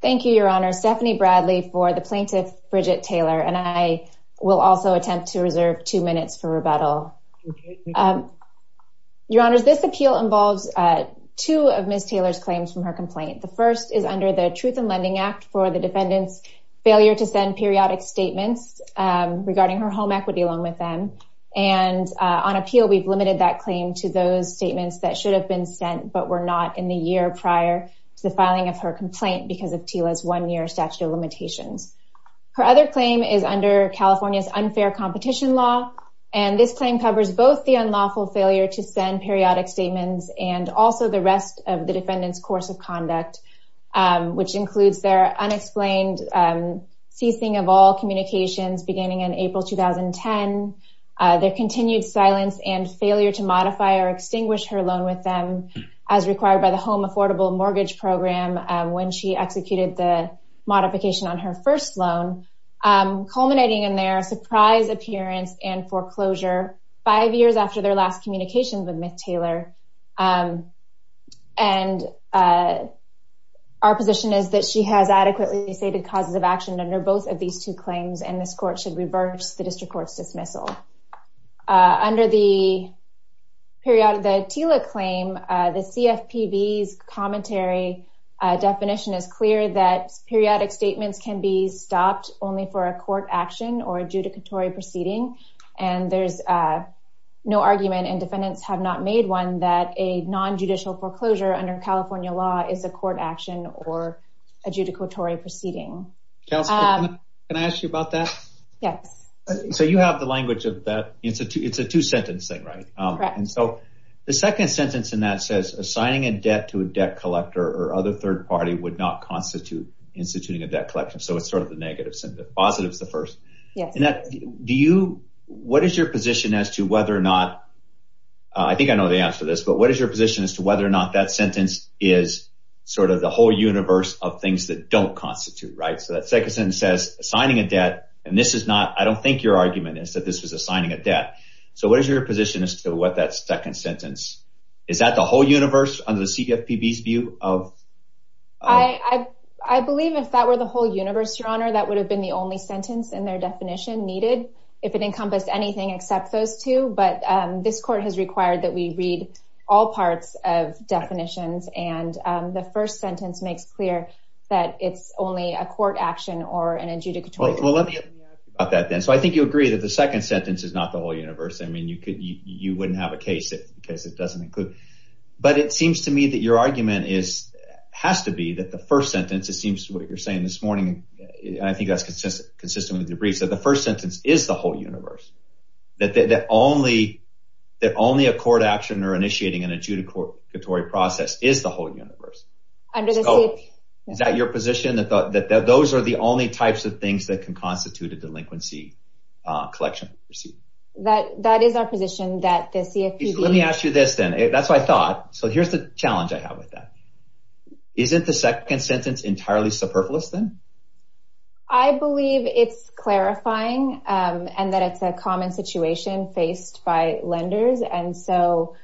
Thank you, Your Honor. Stephanie Bradley for the plaintiff, Bridget Taylor. And I will also attempt to reserve two minutes for rebuttal. Your Honor, this appeal involves two of Ms. Taylor's claims from her complaint. The first is under the Truth in Lending Act for the defendant's failure to send periodic statements regarding her home equity loan with them. And on appeal, we've limited that claim to those because of TILA's one-year statute of limitations. Her other claim is under California's unfair competition law. And this claim covers both the unlawful failure to send periodic statements and also the rest of the defendant's course of conduct, which includes their unexplained ceasing of all communications beginning in April 2010, their continued silence and failure to modify or extinguish her loan with them as required by the Home Affordable Mortgage Program when she executed the modification on her first loan, culminating in their surprise appearance and foreclosure five years after their last communication with Ms. Taylor. And our position is that she has adequately stated causes of action under both of these two claims, and this court should reverse the district court's dismissal. Under the TILA claim, the CFPB's commentary definition is clear that periodic statements can be stopped only for a court action or adjudicatory proceeding. And there's no argument, and defendants have not made one, that a non-judicial foreclosure under California law is a court action or adjudicatory proceeding. Kelsey, can I ask you about that? Yes. So you have the language of that. It's a two-sentence thing, right? Correct. The second sentence in that says, assigning a debt to a debt collector or other third party would not constitute instituting a debt collection. So it's sort of the negative sentence. Positive is the first. What is your position as to whether or not, I think I know the answer to this, but what is your position as to whether or not that sentence is sort of the whole universe of things that don't constitute, right? So that second sentence says, assigning a debt, and this is not, I don't think your argument is that this was assigning a debt. So what is your position as to what that second sentence, is that the whole universe under the CFPB's view? I believe if that were the whole universe, Your Honor, that would have been the only sentence in their definition needed, if it encompassed anything except those two. But this court has required that we read all parts of definitions, and the first sentence makes clear that it's only a court action or an adjudicatory proceeding. Well, let me ask you about that then. So I think you agree that the second sentence is not the whole universe. I mean, you wouldn't have a case because it doesn't include. But it seems to me that your argument has to be that the first sentence, it seems to me what you're saying this morning, and I think that's consistent with your briefs, that the first sentence is the whole universe. That only a court action or initiating an adjudicatory process is the whole universe. Under the CFPB. Is that your position, that those are the only types of things that can constitute a delinquency collection? That is our position that the CFPB. Let me ask you this then. That's what I thought. So here's the challenge I have with that. Isn't the second sentence entirely superfluous then? I believe it's clarifying and that it's a common situation faced by lenders. And so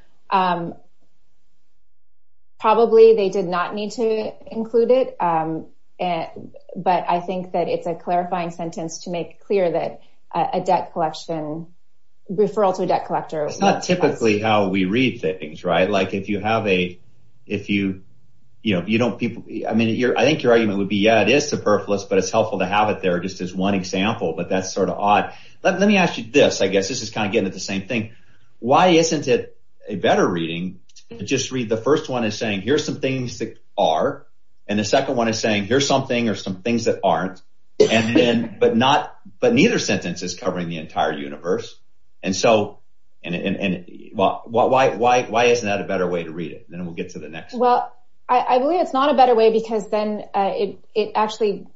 probably they did not need to include it. But I think that it's a clarifying sentence to make clear that a debt collection, referral to a debt collector. It's not typically how we read things, right? Like if you have a, if you, you know, you don't people. I mean, I think your argument would be, yeah, it is superfluous, but it's helpful to have it there just as one example. But that's sort of odd. Let me ask you this, I guess this is kind of getting at the same thing. Why isn't it a better reading? Just read the first one is saying, here's some things that are. And the second one is saying, here's something or some things that and then, but not, but neither sentence is covering the entire universe. And so, and why, why, why, why isn't that a better way to read it? Then we'll get to the next. Well, I believe it's not a better way because then it actually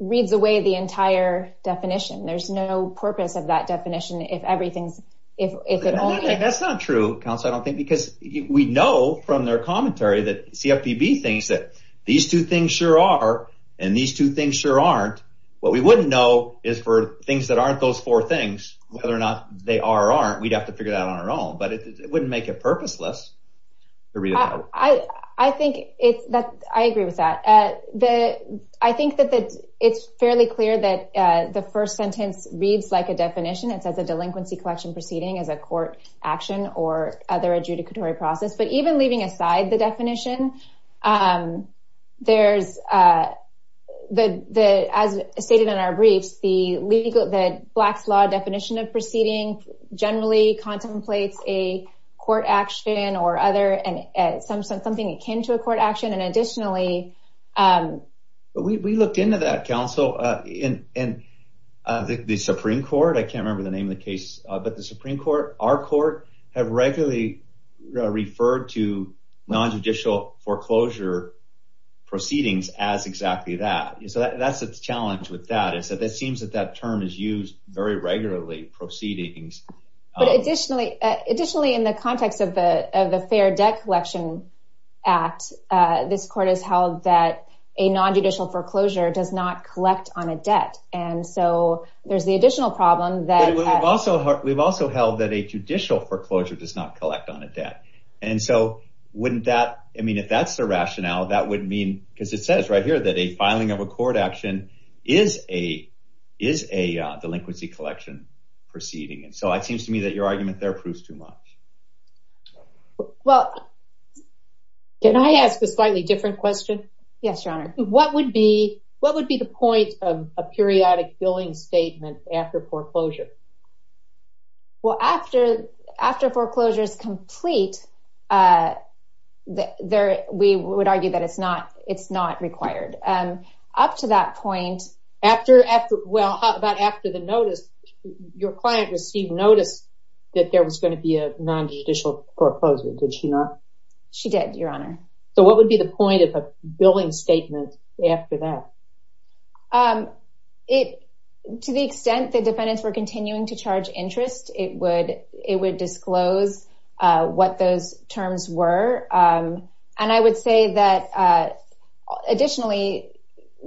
reads away the entire definition. There's no purpose of that definition. If everything's, if that's not true council, I don't think because we know from their commentary that CFPB things that these two things sure are, and these two things sure aren't, what we wouldn't know is for things that aren't those four things, whether or not they are, aren't, we'd have to figure it out on our own, but it wouldn't make it purposeless. I think it's that I agree with that. I think that it's fairly clear that the first sentence reads like a definition. It says a delinquency collection proceeding as a court action or other adjudicatory process, but even leaving aside the definition, there's the, the, as stated in our briefs, the legal, the blacks law definition of proceeding generally contemplates a court action or other, and some, something akin to a court action. And additionally, we looked into that council in, in the Supreme court. I can't non-judicial foreclosure proceedings as exactly that. So that's the challenge with that is that it seems that that term is used very regularly proceedings. But additionally, additionally, in the context of the, of the fair debt collection act, this court has held that a non-judicial foreclosure does not collect on a debt. And so there's the additional problem that we've also, we've also held that a judicial foreclosure does not collect on a debt. And so wouldn't that, I mean, if that's the rationale, that would mean, because it says right here that a filing of a court action is a, is a delinquency collection proceeding. And so it seems to me that your argument there proves too much. Well, can I ask a slightly different question? Yes, your honor. What would be, what would be the point of a periodic billing statement after foreclosure? Well, after, after foreclosure is complete, there, we would argue that it's not, it's not required. Up to that point. After, after, well, about after the notice, your client received notice that there was going to be a non-judicial foreclosure. Did she not? She did, your honor. So what would be the point of a periodic billing statement after foreclosure? Well, the extent that defendants were continuing to charge interest, it would, it would disclose what those terms were. And I would say that additionally,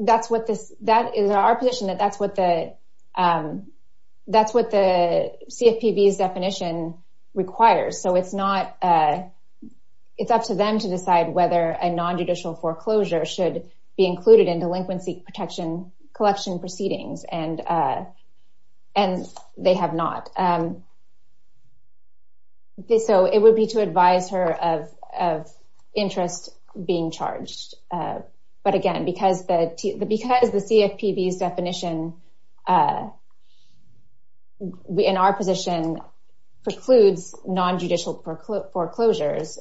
that's what this, that is our position that that's what the, that's what the CFPB's definition requires. So it's not, it's up to them to decide whether a non-judicial foreclosure should be included in delinquency protection collection proceedings. And and they have not. So it would be to advise her of, of interest being charged. But again, because the, because the CFPB's definition in our position precludes non-judicial foreclosures,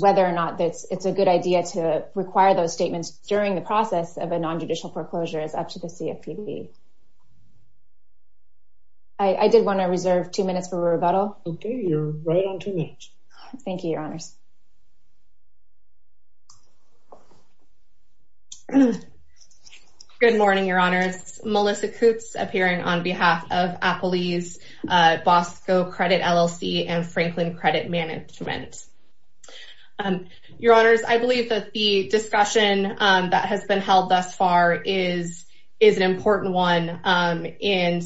whether or not it's, it's a good idea to require those statements during the process of a CFPB. I did want to reserve two minutes for rebuttal. Okay. You're right on two minutes. Thank you, your honors. Good morning, your honors. Melissa Coutts appearing on behalf of Applebee's, Bosco Credit LLC and Franklin Credit Management. Your honors, I believe that the discussion that has been held thus far is, is an important one. And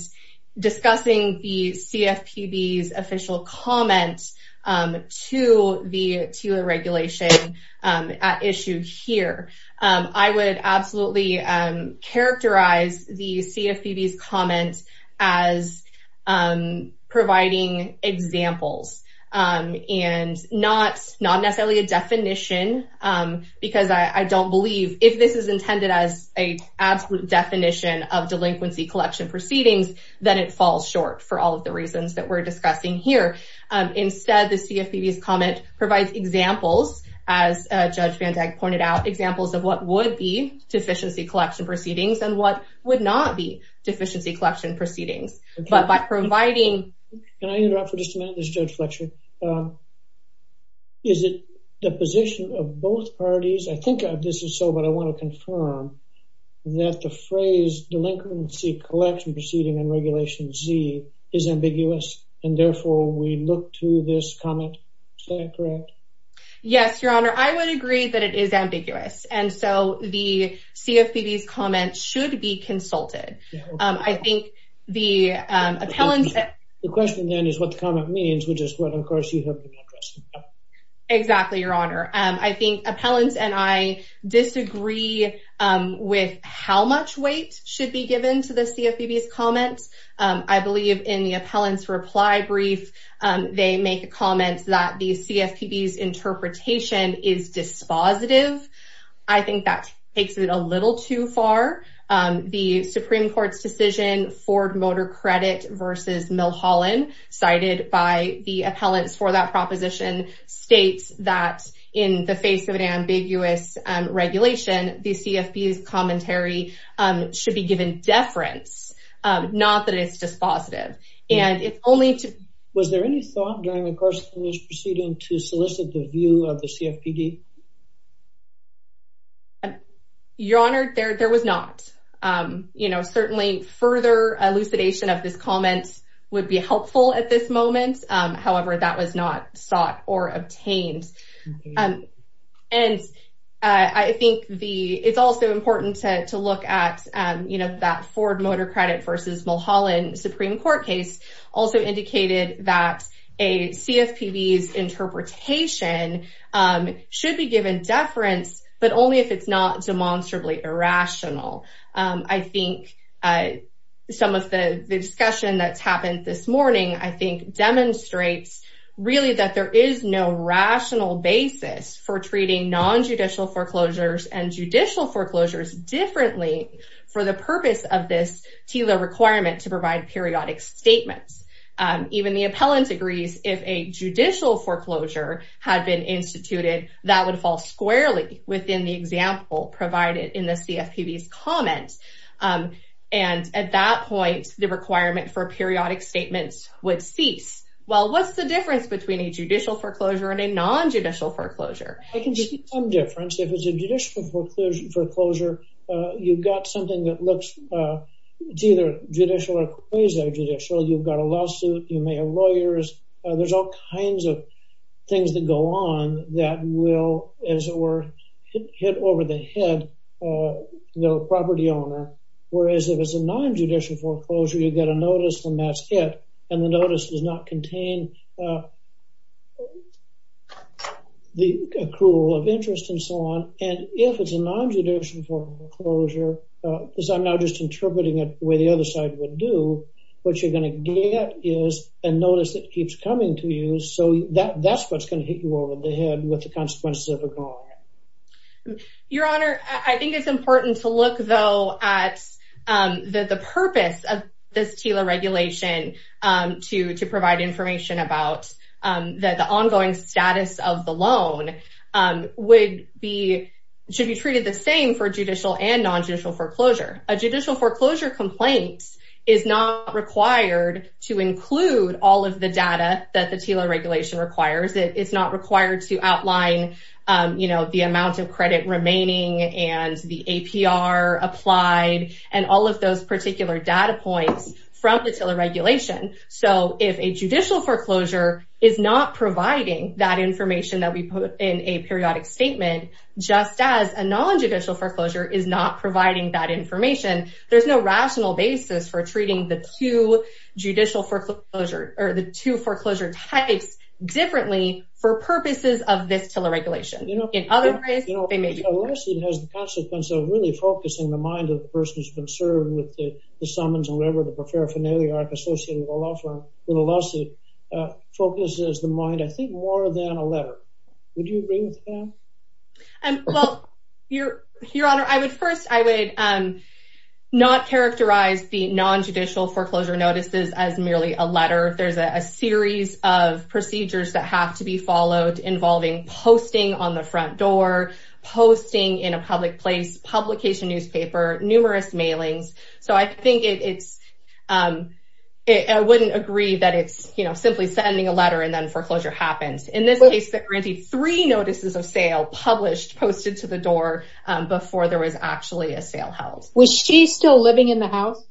discussing the CFPB's official comment to the TILA regulation at issue here. I would absolutely characterize the CFPB's comments as providing examples. And not, not necessarily a definition. Because I don't believe if this is intended as a absolute definition of delinquency collection proceedings, then it falls short for all of the reasons that we're discussing here. Instead, the CFPB's comment provides examples, as Judge Van Dyke pointed out, examples of what would be deficiency collection proceedings. But by providing... Can I interrupt for just a minute, Judge Fletcher? Is it the position of both parties? I think this is so, but I want to confirm that the phrase delinquency collection proceeding and regulation Z is ambiguous. And therefore, we look to this comment. Is that correct? Yes, your honor. I would agree that it is ambiguous. And so the CFPB's comments should be consulted. I think the appellants... The question then is what the comment means, which is what, of course, you have been addressing. Exactly, your honor. I think appellants and I disagree with how much weight should be given to the CFPB's comments. I believe in the appellant's reply brief, they make a comment that the CFPB's interpretation is dispositive. I think that takes it a little too far. The Supreme Court's decision, Ford Motor Credit versus Milhollin, cited by the appellants for that proposition states that in the face of an ambiguous regulation, the CFPB's commentary should be given deference, not that it's dispositive. And if only to... Proceeding to solicit the view of the CFPB. Your honor, there was not. Certainly, further elucidation of this comment would be helpful at this moment. However, that was not sought or obtained. And I think it's also important to look at that Ford Motor Credit versus Milhollin Supreme Court case also indicated that a CFPB's interpretation should be given deference, but only if it's not demonstrably irrational. I think some of the discussion that's happened this morning, I think demonstrates really that there is no rational basis for treating nonjudicial foreclosures and judicial foreclosures differently for the purpose of this TILA requirement to provide periodic statements. Even the appellant agrees if a judicial foreclosure had been instituted, that would fall squarely within the example provided in the CFPB's comments. And at that point, the requirement for periodic statements would cease. Well, what's the difference between a judicial foreclosure and a nonjudicial foreclosure? I can see some difference. If it's a judicial foreclosure, you've got something that looks either judicial or quasi-judicial. You've got a lawsuit, you may have lawyers, there's all kinds of things that go on that will, as it were, hit over the head the property owner. Whereas if it's a nonjudicial foreclosure, you get a notice when that's hit, and the notice does not contain the accrual of interest and so on. And if it's a nonjudicial foreclosure, as I'm now just interpreting it the way the other side would do, what you're going to get is a notice that keeps coming to you. So that's what's going to hit you over the head with the consequences of ignoring it. Your Honor, I think it's important to look, though, at the purpose of this TILA regulation to provide information about the ongoing status of the loan should be treated the same for judicial and nonjudicial foreclosure. A judicial foreclosure complaint is not required to include all of the data that the TILA regulation requires. It's not required to outline the amount of credit remaining and the APR applied and all of those particular data points from the TILA regulation. So if a judicial foreclosure is not providing that information that we put in a periodic statement, just as a nonjudicial foreclosure is not providing that information, there's no rational basis for treating the two judicial foreclosure or the two foreclosure types differently for purposes of this TILA regulation. In other words, they may be- You know, a lawsuit has the consequence of really focusing the mind of the person who's been served with the summons or whatever the paraphernalia associated with a lawsuit focuses the mind, I think, more than a letter. Would you agree with that? Well, Your Honor, first, I would not characterize the nonjudicial foreclosure notices as merely a letter. There's a series of procedures that have to be followed involving posting on the front door, posting in a public place, publication newspaper, numerous mailings. So I think it's- I wouldn't agree that it's, you know, simply sending a letter and then foreclosure happens. In this case, they granted three notices of sale, published, posted to the door before there was actually a sale held. Was she still living in the house?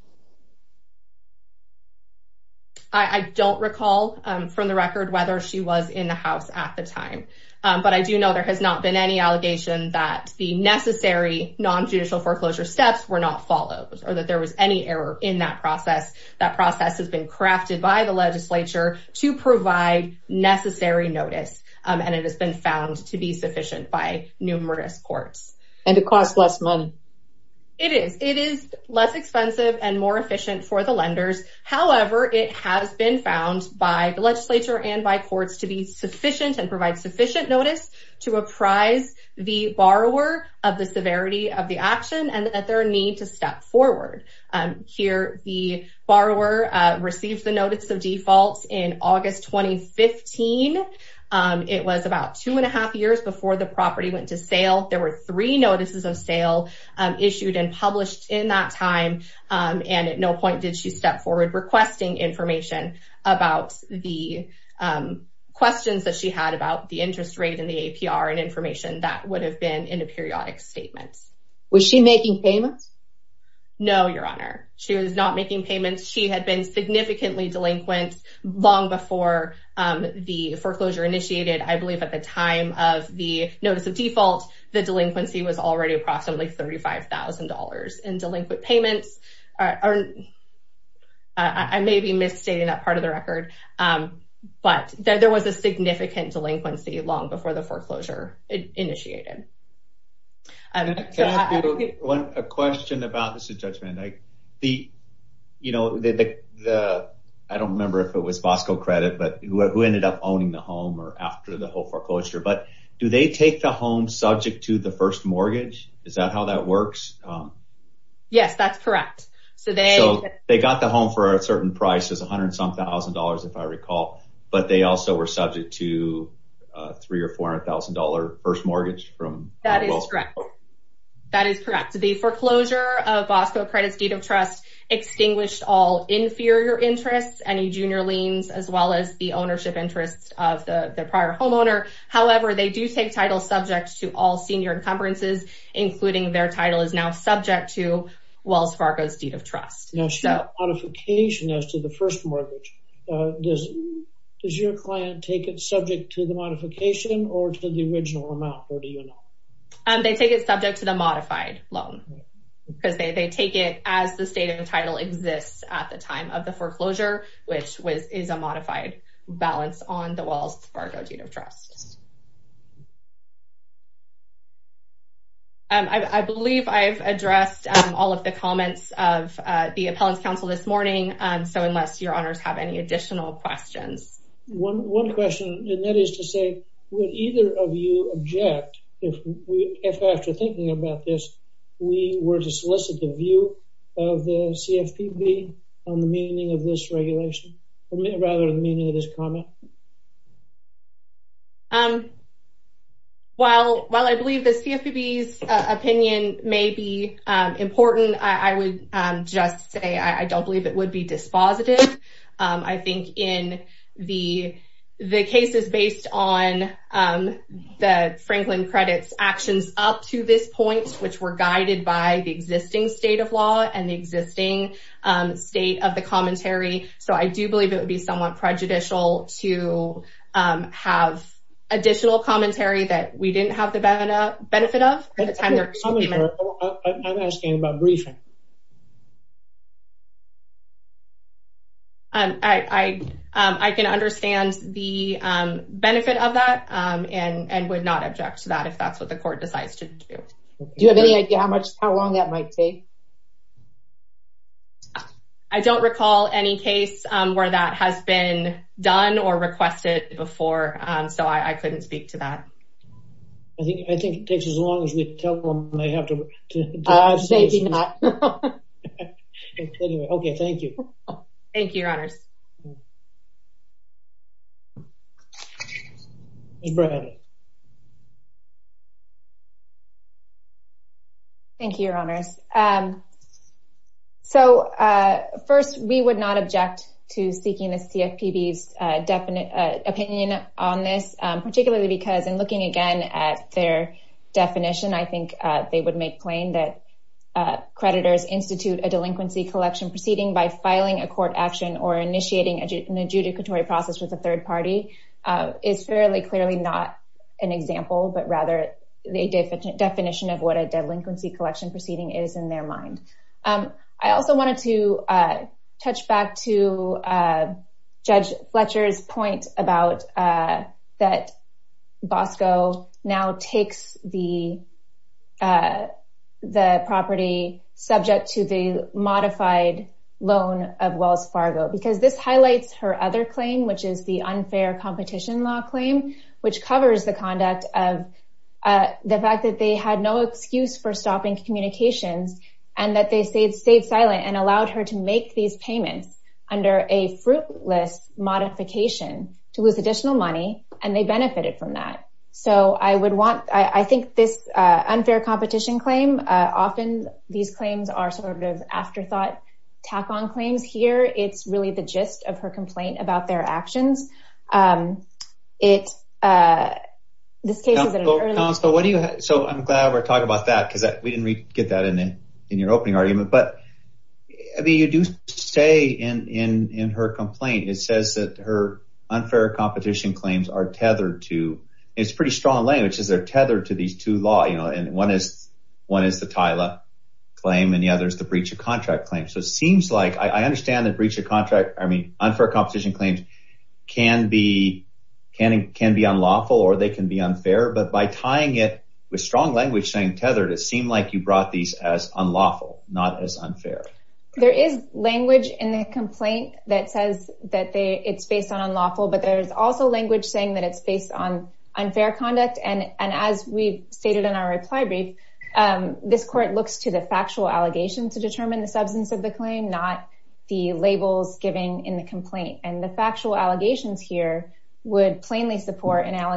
I don't recall from the record whether she was in the house at the time, but I do know there has not been any allegation that the necessary nonjudicial foreclosure steps were not followed or that there was any error in that process. That process has been crafted by the legislature to provide necessary notice, and it has been found to be sufficient by numerous courts. And it costs less money. It is. It is less expensive and more efficient for the lenders. However, it has been found by the legislature and by courts to be sufficient and provide sufficient notice to apprise the borrower of the severity of the action and that their need to step forward. Here, the borrower received the notice of default in August 2015. It was about two and a half years before the property went to sale. There were three notices of sale issued and published in that time, and at no point did she step forward requesting information about the questions that she had about the interest rate and the APR and information that would have been in a periodic statement. Was she making payments? No, Your Honor. She was not making payments. She had been significantly delinquent long before the foreclosure initiated. I believe at the time of the notice of default, the delinquency was already approximately $35,000 in delinquent payments. I may be misstating that part of the record, but there was a significant delinquency long before the foreclosure initiated. I have a question about the, I don't remember if it was Fosco Credit, but who ended up owning the home or after the whole foreclosure, but do they take the home subject to the first mortgage? Is that how that works? Yes, that's correct. So they got the $300,000 or $400,000 first mortgage from Wells Fargo? That is correct. The foreclosure of Fosco Credit's deed of trust extinguished all inferior interests, any junior liens, as well as the ownership interests of the prior homeowner. However, they do take title subject to all senior encumbrances, including their title is now subject to Wells Fargo's deed of trust. Modification as to the first mortgage, does your client take it subject to the modification or to the original amount, or do you not? They take it subject to the modified loan because they take it as the state of the title exists at the time of the foreclosure, which is a modified balance on Wells Fargo's deed of trust. I believe I've addressed all of the comments of the Appellants Council this morning, so unless your honors have any additional questions. One question, and that is to say, would either of you object if after thinking about this, we were to solicit the view of the CFPB on the meaning of this regulation, or rather the meaning of this comment? While I believe the CFPB's opinion may be important, I would just say I don't believe it would be dispositive. I think in the cases based on the Franklin Credit's actions up to this point, which were guided by the existing state of law and the existing state of the commentary, so I believe it would be somewhat prejudicial to have additional commentary that we didn't have the benefit of. I'm asking about briefing. I can understand the benefit of that and would not object to that if that's what the court decides. Do you have any idea how long that might take? I don't recall any case where that has been done or requested before, so I couldn't speak to that. I think it takes as long as we tell them they have to dive in. Maybe not. Anyway, okay, thank you. Thank you, your honors. Thank you, your honors. So, first, we would not object to seeking the CFPB's opinion on this, particularly because in looking again at their definition, I think they would make plain that creditors institute a delinquency collection proceeding by filing a court action or initiating an adjudicatory process with a third party is fairly clearly not an example, but rather the definition of what a delinquency collection proceeding is in their mind. I also wanted to touch back to Judge Fletcher's about that Bosco now takes the property subject to the modified loan of Wells Fargo, because this highlights her other claim, which is the unfair competition law claim, which covers the conduct of the fact that they had no excuse for stopping communications and that they stayed silent and allowed her to make these payments under a fruitless modification to lose additional money, and they benefited from that. So, I think this unfair competition claim, often these claims are sort of afterthought tack-on claims here. It's really the gist of her complaint about their actions. So, I'm glad we're talking about that, because we didn't get that in your opening argument, but you do say in her complaint, it says that her unfair competition claims are tethered to, it's pretty strong language, is they're tethered to these two law, you know, and one is the TILA claim and the other is the breach of contract claim. So, it seems like, I understand that breach of contract, I mean, unfair competition claims can be unlawful or they can be unfair, but by tying it with strong language saying tethered, it seemed like you brought these as unlawful, not as unfair. There is language in the complaint that says that it's based on unlawful, but there's also language saying that it's based on unfair conduct, and as we've stated in our reply brief, this court looks to the factual allegations to determine the substance of the claim, not the labels given in the complaint, and the factual allegations here would plainly support an is an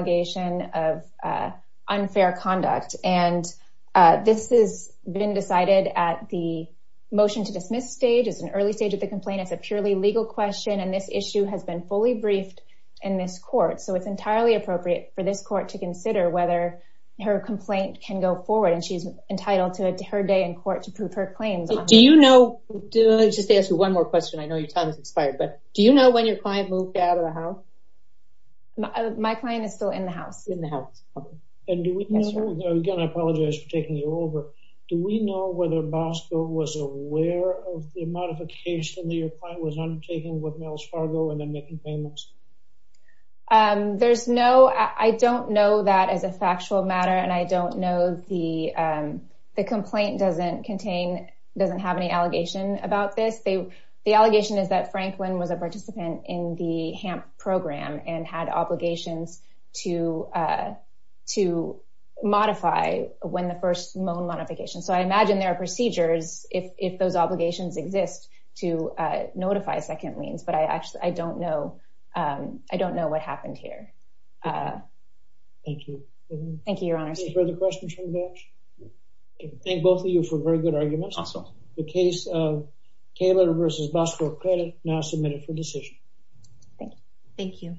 early stage of the complaint. It's a purely legal question, and this issue has been fully briefed in this court, so it's entirely appropriate for this court to consider whether her complaint can go forward, and she's entitled to her day in court to prove her claims. Do you know, just to ask you one more question, I know your time has expired, but do you know when your client moved out of the house? My client is still in the house. In the house. And do we know, again, I apologize for taking you over, do we know whether Bosco was aware of the modification that your client was undertaking with Mel's Fargo and then making payments? There's no, I don't know that as a factual matter, and I don't know the, the complaint doesn't contain, doesn't have any allegation about this. The allegation is that Franklin was a participant in the HAMP program and had obligations to modify when the first loan modification, so I imagine there are procedures if those obligations exist to notify second liens, but I actually, I don't know, I don't know what happened here. Thank you. Thank you, Your Honor. Any further questions from the bench? I thank both of you for very good arguments. Awesome. The case of Taylor versus Bosco Credit, now submitted for decision. Thank you.